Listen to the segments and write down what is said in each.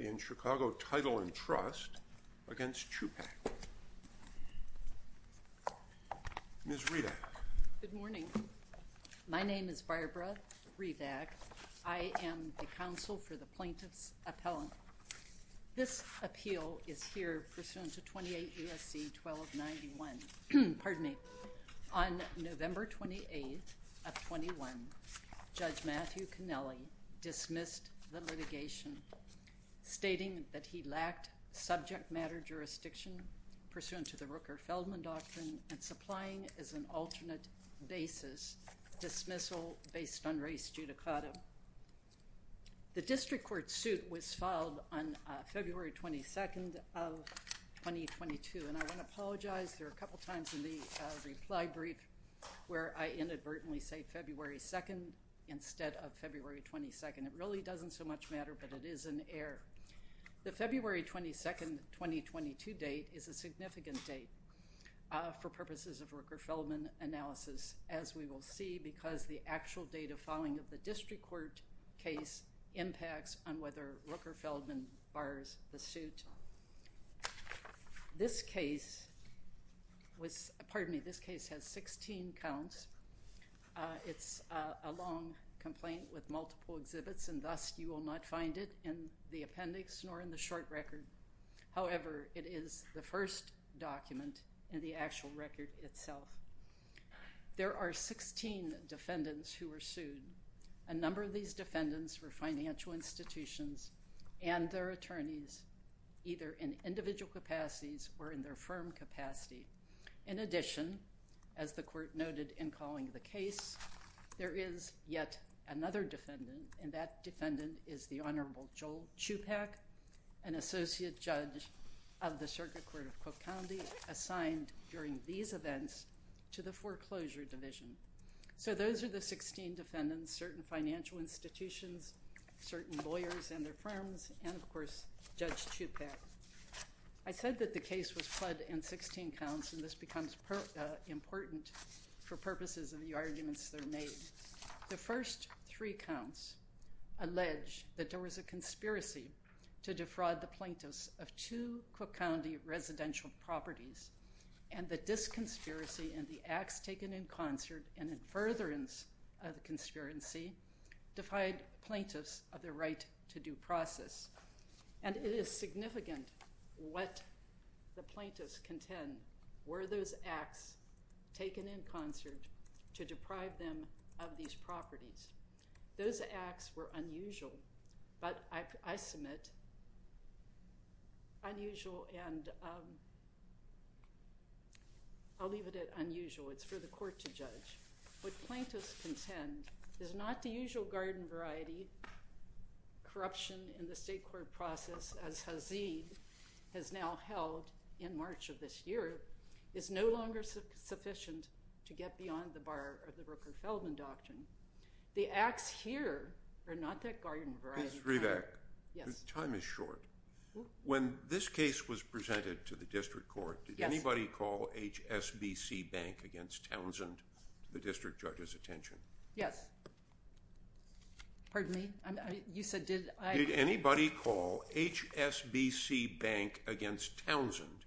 in Chicago Title and Trust against Chupack. Ms. Rivack. Good morning. My name is Barbara Rivack. I am the counsel for the plaintiff's appellant. This appeal is here pursuant to 28 U.S.C. 1291. Pardon me. On November 28th of 21, Judge Matthew Connelly dismissed the litigation, stating that he lacked subject matter jurisdiction pursuant to the Rooker-Feldman Doctrine and supplying as an alternate basis dismissal based on race judicata. The district court suit was filed on February 22nd of 2022. And I want to apologize. There are a couple of times in the reply brief where I inadvertently say February 2nd instead of February 22nd. It really doesn't so much matter, but it is an error. The February 22nd, 2022 date is a significant date for purposes of Rooker-Feldman analysis, as we will see because the actual date of filing of the district court case impacts on whether Rooker-Feldman bars the suit. This case was, pardon me, this case has 16 counts. It's a long complaint with multiple exhibits and thus you will not find it in the appendix nor in the short record. However, it is the first document in the actual record itself. There are 16 defendants who were sued. A number of these defendants were financial institutions and their attorneys, either in individual capacities or in their firm capacity. In addition, as the court noted in calling the case, there is yet another defendant and that defendant is the Honorable Joel Chupack, an associate judge of the Circuit Court of Cook County assigned during these events to the foreclosure division. So those are the 16 defendants, certain financial institutions, certain lawyers and their firms, and of course, Judge Chupack. I said that the case was fled in 16 counts and this becomes important for purposes of the arguments that are made. The first three counts allege that there was a conspiracy to defraud the plaintiffs of two Cook County residential properties and that this conspiracy and the acts taken in concert and in furtherance of the conspiracy defied plaintiffs of their right to due process. And it is significant what the plaintiffs contend. Were those acts taken in concert to deprive them of these properties? Those acts were unusual, but I submit, unusual and I'll leave it at unusual. It's for the court to judge. What plaintiffs contend is not the usual garden variety, corruption in the state court process as Hazeed has now held in March of this year is no longer sufficient to get beyond the bar of the Rooker-Feldman Doctrine. The acts here are not that garden variety. Ms. Hribak, your time is short. When this case was presented to the district court, did anybody call HSBC Bank against Townsend to the district judge's attention? Yes. Pardon me, you said, did I? Did anybody call HSBC Bank against Townsend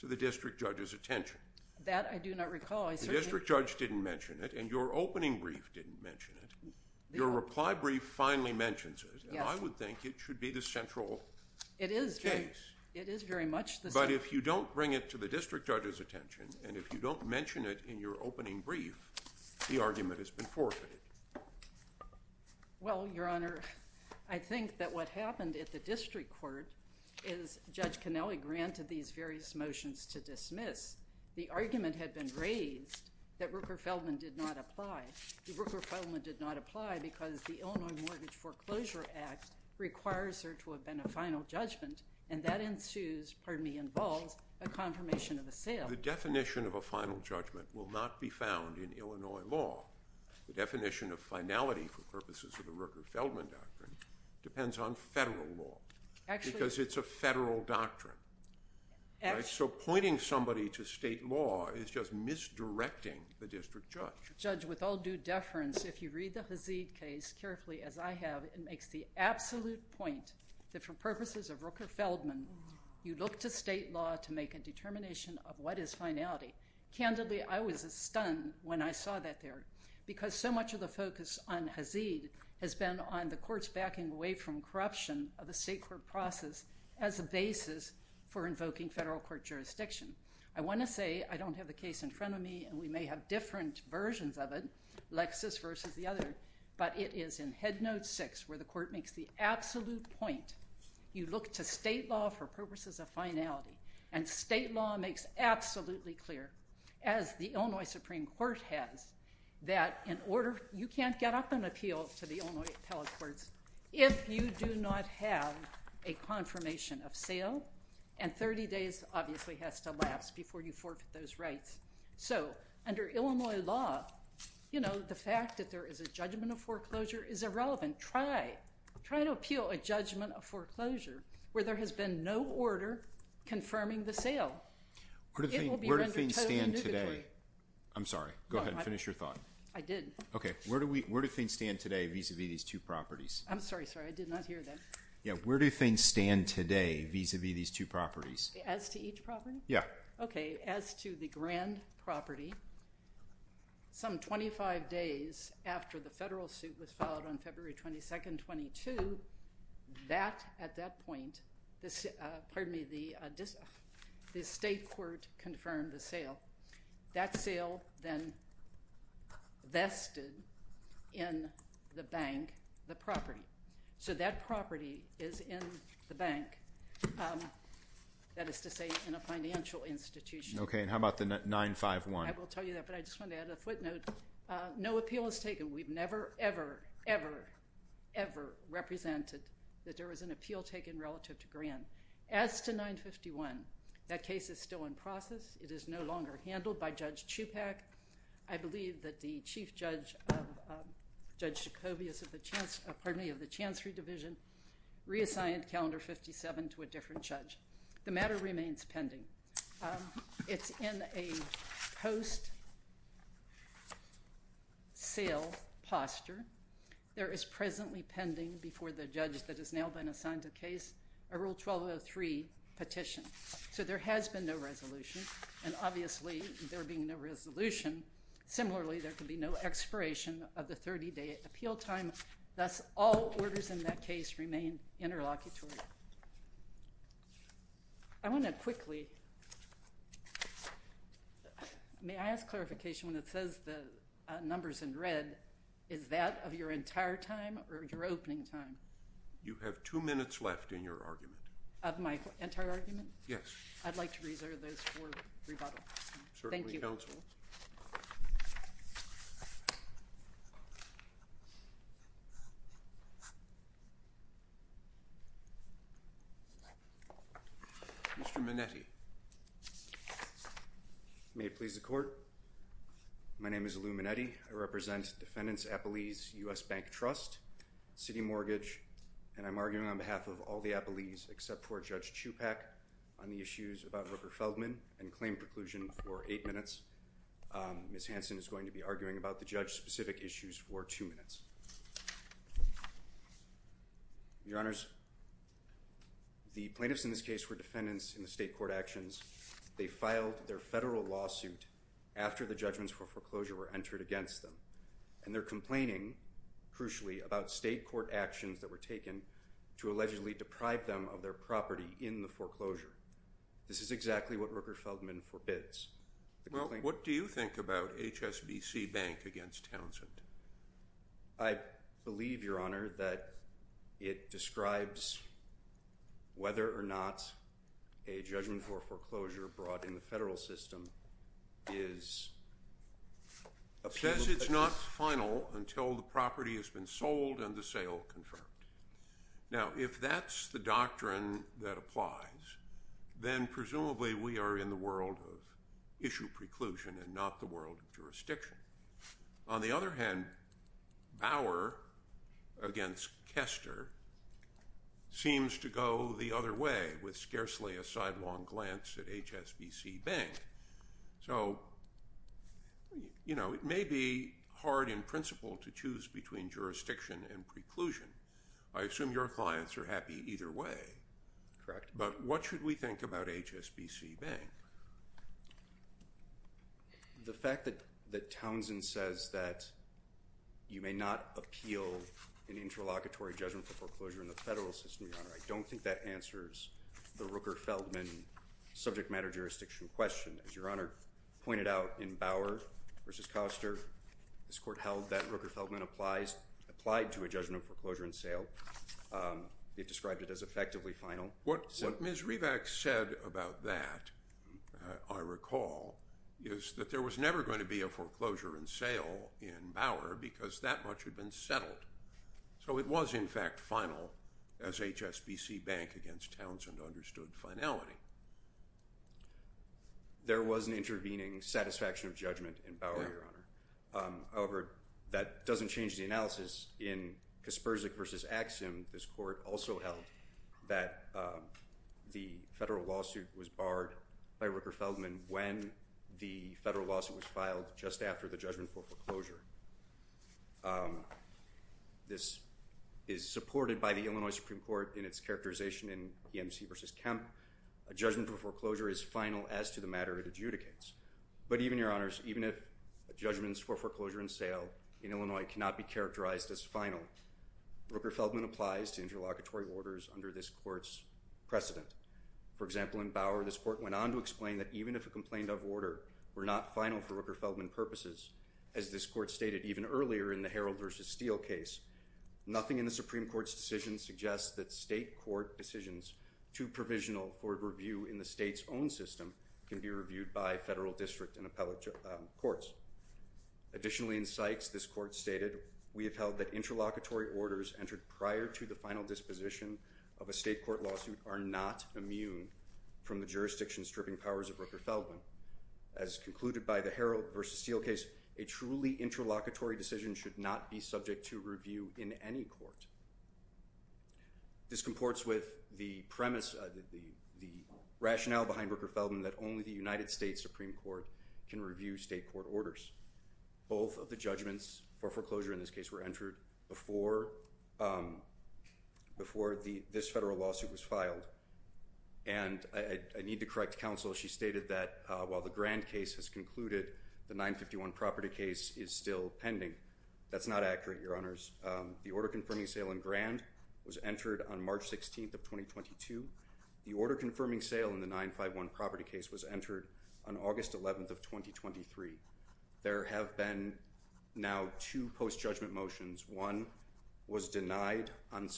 to the district judge's attention? That I do not recall. The district judge didn't mention it and your opening brief didn't mention it. Your reply brief finally mentions it and I would think it should be the central case. It is very much the same. But if you don't bring it to the district judge's attention and if you don't mention it in your opening brief, the argument has been forfeited. Well, Your Honor, I think that what happened at the district court is Judge Cannelli granted these various motions to dismiss. The argument had been raised that Rooker-Feldman did not apply. The Rooker-Feldman did not apply because the Illinois Mortgage Foreclosure Act requires there to have been a final judgment and that ensues, pardon me, involves a confirmation of the sale. The definition of a final judgment will not be found in Illinois law. The definition of finality for purposes of the Rooker-Feldman Doctrine depends on federal law because it's a federal doctrine. So pointing somebody to state law is just misdirecting the district judge. Judge, with all due deference, if you read the Hazid case carefully as I have, it makes the absolute point that for purposes of Rooker-Feldman, you look to state law to make a determination of what is finality. Candidly, I was stunned when I saw that there because so much of the focus on Hazid has been on the court's backing away from corruption of the state court process as a basis for invoking federal court jurisdiction. I wanna say, I don't have the case in front of me and we may have different versions of it, Lexis versus the other, but it is in Headnote 6 where the court makes the absolute point. You look to state law for purposes of finality and state law makes absolutely clear, as the Illinois Supreme Court has, that in order, you can't get up and appeal to the Illinois Appellate Courts if you do not have a confirmation of sale and 30 days obviously has to last before you forfeit those rights. So under Illinois law, the fact that there is a judgment of foreclosure is irrelevant. Try, try to appeal a judgment of foreclosure where there has been no order confirming the sale. It will be rendered totally negatory. I'm sorry, go ahead and finish your thought. I did. Okay, where do things stand today vis-a-vis these two properties? I'm sorry, sorry, I did not hear that. Yeah, where do things stand today vis-a-vis these two properties? As to each property? Yeah. Okay, as to the grand property, some 25 days after the federal suit was filed on February 22nd, 22, that, at that point, pardon me, the state court confirmed the sale. That sale then vested in the bank, the property. So that property is in the bank, that is to say in a financial institution. Okay, and how about the 951? I will tell you that, but I just want to add a footnote. No appeal is taken. We've never, ever, ever, ever represented that there was an appeal taken relative to grand. As to 951, that case is still in process. It is no longer handled by Judge Chupac. I believe that the chief judge of, Judge Jacobius of the Chance, pardon me, of the Chancery Division reassigned calendar 57 to a different judge. The matter remains pending. It's in a post sale posture. There is presently pending before the judge that has now been assigned to the case a Rule 1203 petition. So there has been no resolution, and obviously, there being no resolution, similarly, there could be no expiration of the 30-day appeal time. Thus, all orders in that case remain interlocutory. I want to quickly, may I ask clarification when it says the numbers in red, is that of your entire time or your opening time? You have two minutes left in your argument. Of my entire argument? Yes. I'd like to reserve those for rebuttal. Certainly, counsel. Mr. Minetti. May it please the court. My name is Lou Minetti. I represent Defendants Appalese U.S. Bank Trust, City Mortgage, and I'm arguing on behalf of all the Appalese except for Judge Chupac on the issues about Roker Feldman and I'm here to argue on behalf of the court Ms. Hanson is going to be arguing about the judge-specific issues for two minutes. Your Honors, the plaintiffs in this case were defendants in the state court actions. They filed their federal lawsuit after the judgments for foreclosure were entered against them, and they're complaining, crucially, about state court actions that were taken to allegedly deprive them of their property in the foreclosure. This is exactly what Roker Feldman forbids. Well, what do you think about HSBC Bank against Townsend? I believe, Your Honor, that it describes whether or not a judgment for foreclosure brought in the federal system is Appealable. It says it's not final until the property has been sold and the sale confirmed. Now, if that's the doctrine that applies, then presumably we are in the world of issue preclusion and not the world of jurisdiction. On the other hand, Bauer against Kester seems to go the other way with scarcely a sidelong glance at HSBC Bank. So, you know, it may be hard in principle to choose between jurisdiction and preclusion. I assume your clients are happy either way. Correct. But what should we think about HSBC Bank? The fact that Townsend says that you may not appeal an interlocutory judgment for foreclosure in the federal system, Your Honor, I don't think that answers the Roker Feldman subject matter jurisdiction question. As Your Honor pointed out in Bauer versus Kester, this court held that Roker Feldman applied to a judgment of foreclosure and sale. It described it as effectively final. What Ms. Rivack said about that, I recall, is that there was never going to be a foreclosure and sale in Bauer because that much had been settled. So it was in fact final as HSBC Bank against Townsend understood finality. There was an intervening satisfaction of judgment However, that doesn't change the analysis in Kaspersky versus Axum. This court also held that the federal lawsuit was barred by Roker Feldman when the federal lawsuit was filed just after the judgment for foreclosure. This is supported by the Illinois Supreme Court in its characterization in EMC versus Kemp. A judgment for foreclosure is final as to the matter it adjudicates. But even, Your Honors, even if judgments for foreclosure and sale in Illinois cannot be characterized as final, Roker Feldman applies to interlocutory orders under this court's precedent. For example, in Bauer, this court went on to explain that even if a complaint of order were not final for Roker Feldman purposes, as this court stated even earlier in the Herald versus Steele case, nothing in the Supreme Court's decision suggests that state court decisions too provisional for review in the state's own system can be reviewed by federal district and appellate courts. Additionally, in Sykes, this court stated, we have held that interlocutory orders entered prior to the final disposition of a state court lawsuit are not immune from the jurisdiction stripping powers of Roker Feldman. As concluded by the Herald versus Steele case, a truly interlocutory decision should not be subject to review in any court. This comports with the premise, the rationale behind Roker Feldman that only the United States Supreme Court can review state court orders. Both of the judgments for foreclosure in this case were entered before this federal lawsuit was filed. And I need to correct counsel. She stated that while the Grand case has concluded, the 951 property case is still pending. That's not accurate, your honors. The order confirming sale in Grand was entered on March 16th of 2022. The order confirming sale in the 951 property case was entered on August 11th of 2023. There have been now two post-judgment motions. One was denied on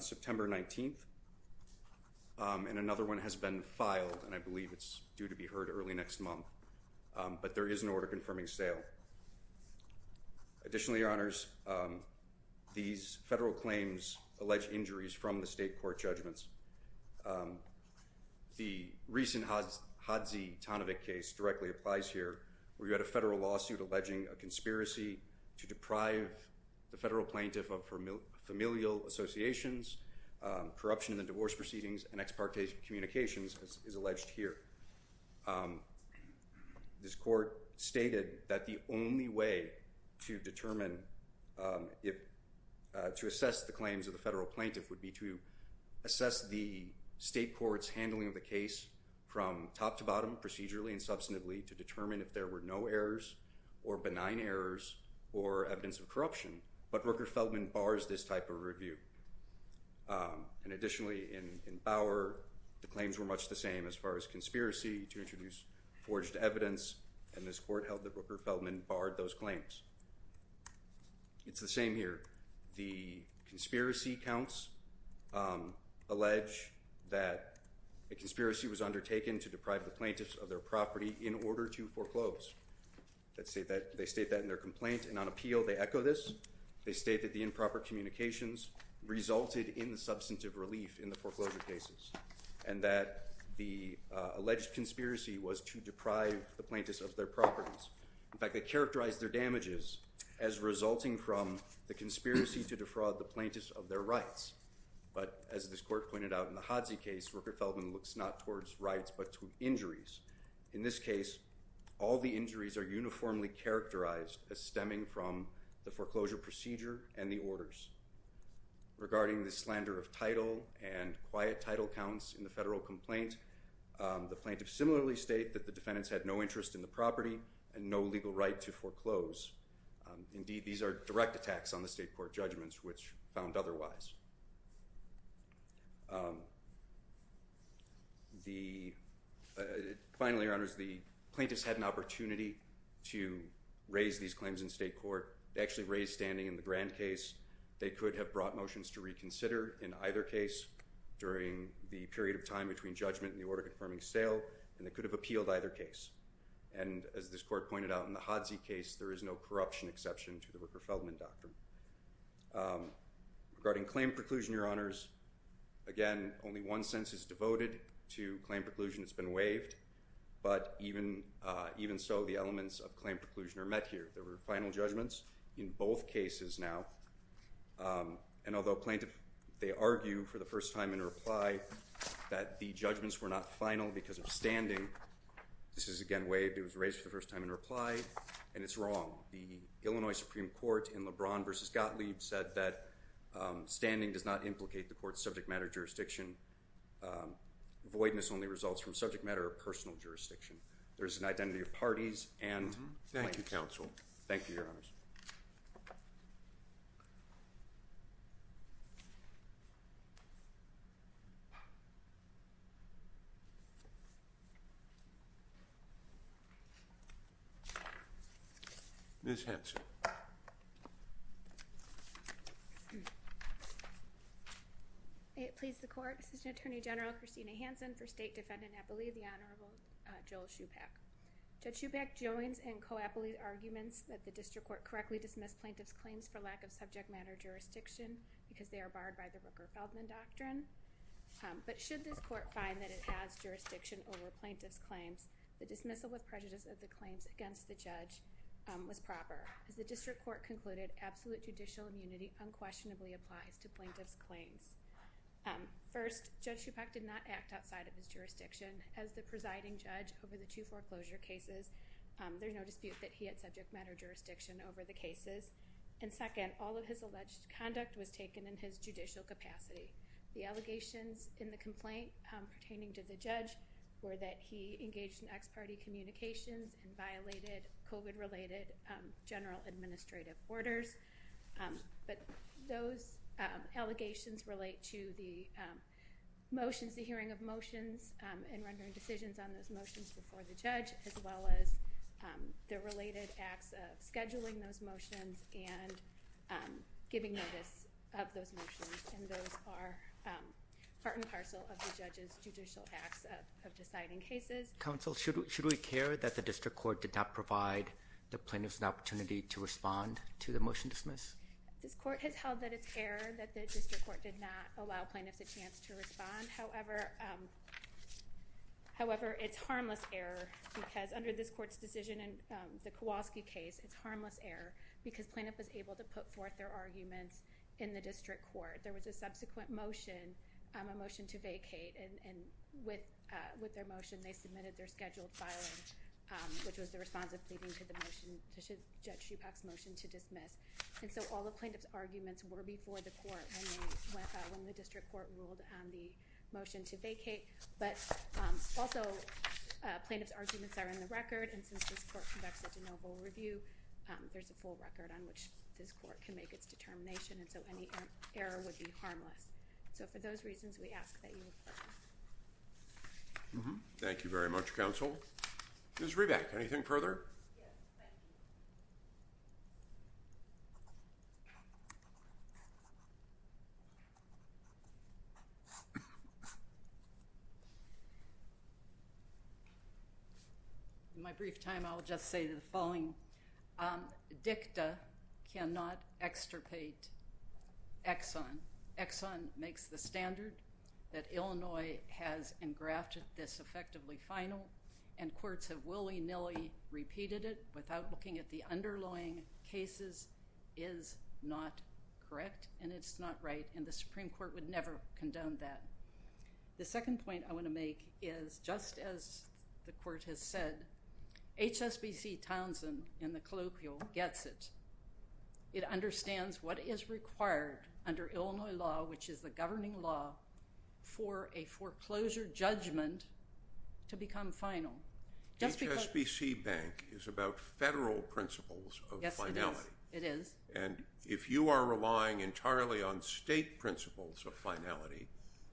September 19th, and another one has been filed, and I believe it's due to be heard early next month. But there is an order confirming sale. Additionally, your honors, these federal claims allege injuries from the state court judgments. The recent Hodzie-Tonovic case directly applies here, where you had a federal lawsuit alleging a conspiracy to deprive the federal plaintiff of familial associations, corruption in the divorce proceedings, and ex-parte communications, as is alleged here. This court stated that the only way to determine, to assess the claims of the federal plaintiff would be to assess the state court's handling of the case from top to bottom, procedurally and substantively, to determine if there were no errors or benign errors or evidence of corruption. But Rooker-Feldman bars this type of review. And additionally, in Bauer, the claims were much the same as far as conspiracy to introduce forged evidence, and this court held that Rooker-Feldman barred those claims. It's the same here. The conspiracy counts allege that a conspiracy was undertaken to deprive the plaintiffs of their property in order to foreclose. They state that in their complaint, and on appeal, they echo this. They state that the improper communications resulted in the substantive relief in the foreclosure cases, and that the alleged conspiracy was to deprive the plaintiffs of their properties. In fact, they characterized their damages as resulting from the conspiracy to defraud the plaintiffs of their rights. But as this court pointed out in the Hadzi case, Rooker-Feldman looks not towards rights but to injuries. In this case, all the injuries are uniformly characterized as stemming from the foreclosure procedure and the orders. Regarding the slander of title and quiet title counts in the federal complaint, the plaintiffs similarly state that the defendants had no interest in the property and no legal right to foreclose. Indeed, these are direct attacks on the state court judgments, which found otherwise. Finally, Your Honors, the plaintiffs had an opportunity to raise these claims in state court. They actually raised standing in the Grand case. They could have brought motions to reconsider in either case during the period of time between judgment and the order-confirming sale. And they could have appealed either case. And as this court pointed out in the Hadzi case, there is no corruption exception to the Rooker-Feldman doctrine. Regarding claim preclusion, Your Honors, again, only one sentence is devoted to claim preclusion. It's been waived. But even so, the elements of claim preclusion are met here. There were final judgments in both cases now. And although plaintiff, they argue for the first time in reply that the judgments were not final because of standing, this is, again, waived. It was raised for the first time in reply. And it's wrong. The Illinois Supreme Court in LeBron versus Gottlieb said that standing does not implicate the court's subject matter jurisdiction. Voidness only results from subject matter or personal jurisdiction. There is an identity of parties and plaintiffs. Thank you, counsel. Thank you, Your Honors. Ms. Hanson. May it please the court, Assistant Attorney General Christina Hanson for State Defendant Appellee, the Honorable Joel Shupak. Judge Shupak joins in co-appellate arguments that the district court correctly dismissed plaintiff's claims for lack of subject matter jurisdiction because they are barred by the Rooker-Feldman doctrine. over plaintiff's claims, it should The dismissal with prejudice of the claims against the judge was proper. As the district court concluded, absolute judicial immunity unquestionably applies to plaintiff's claims. First, Judge Shupak did not act outside of his jurisdiction. As the presiding judge over the two foreclosure cases, there's no dispute that he had subject matter jurisdiction over the cases. And second, all of his alleged conduct was taken in his judicial capacity. The allegations in the complaint pertaining to the judge were that he engaged in ex-party communications and violated COVID-related general administrative orders. But those allegations relate to the motions, the hearing of motions and rendering decisions on those motions before the judge, as well as the related acts of scheduling those motions and giving notice of those motions. And those are part and parcel of the judge's judicial acts of deciding cases. Counsel, should we care that the district court did not provide the plaintiffs an opportunity to respond to the motion dismiss? This court has held that it's error that the district court did not allow plaintiffs a chance to respond. However, it's harmless error because under this court's decision in the Kowalski case, it's harmless error because plaintiff was able to put forth their arguments in the district court. There was a subsequent motion, a motion to vacate and with their motion, they submitted their scheduled filing, which was the response of pleading to the motion to judge Shupak's motion to dismiss. And so all the plaintiff's arguments were before the court when the district court ruled on the motion to vacate, but also plaintiff's arguments are in the record. And since this court conducts such a noble review, there's a full record on which this court can make its determination. And so any error would be harmless. So for those reasons, we ask that you... Thank you very much, counsel. Ms. Riebeck, anything further? Yes, thank you. In my brief time, I'll just say the following. DICTA cannot extirpate Exxon. Exxon makes the standard that Illinois has engrafted this effectively final and courts have willy-nilly repeated it without looking at the underlying cases is not correct and it's not right. And the Supreme Court would never condone that. The second point I wanna make is just as the court has said, HSBC Townsend in the colloquial gets it. It understands what is required under Illinois law, which is the governing law for a foreclosure judgment to become final. Just because- HSBC Bank is about federal principles of finality. It is. And if you are relying entirely on state principles of finality,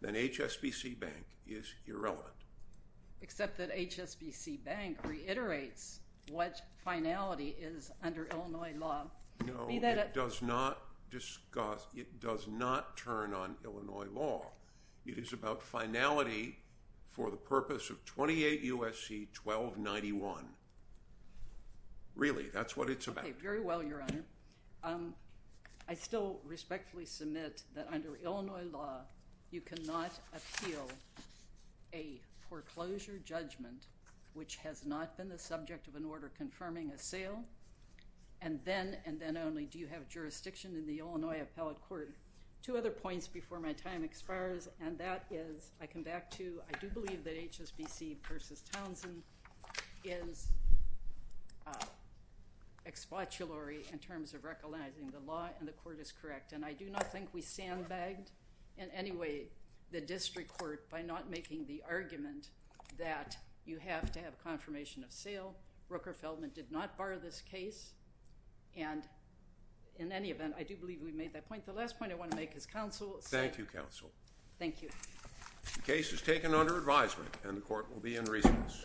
then HSBC Bank is irrelevant. Except that HSBC Bank reiterates what finality is under Illinois law. No, it does not turn on Illinois law. It is about finality for the purpose of 28 U.S.C. 1291. Really, that's what it's about. Okay, very well, Your Honor. I still respectfully submit that under Illinois law, you cannot appeal a foreclosure judgment which has not been the subject of an order confirming a sale. And then, and then only, do you have jurisdiction in the Illinois Appellate Court. Two other points before my time expires, and that is, I come back to, I do believe that HSBC versus Townsend is expoitulary in terms of recognizing the law and the court is correct. And I do not think we sandbagged in any way the district court by not making the argument that you have to have a confirmation of sale. Rooker-Feldman did not bar this case. And in any event, I do believe we made that point. The last point I wanna make is counsel. Thank you, counsel. Thank you. The case is taken under advisement and the court will be in recess.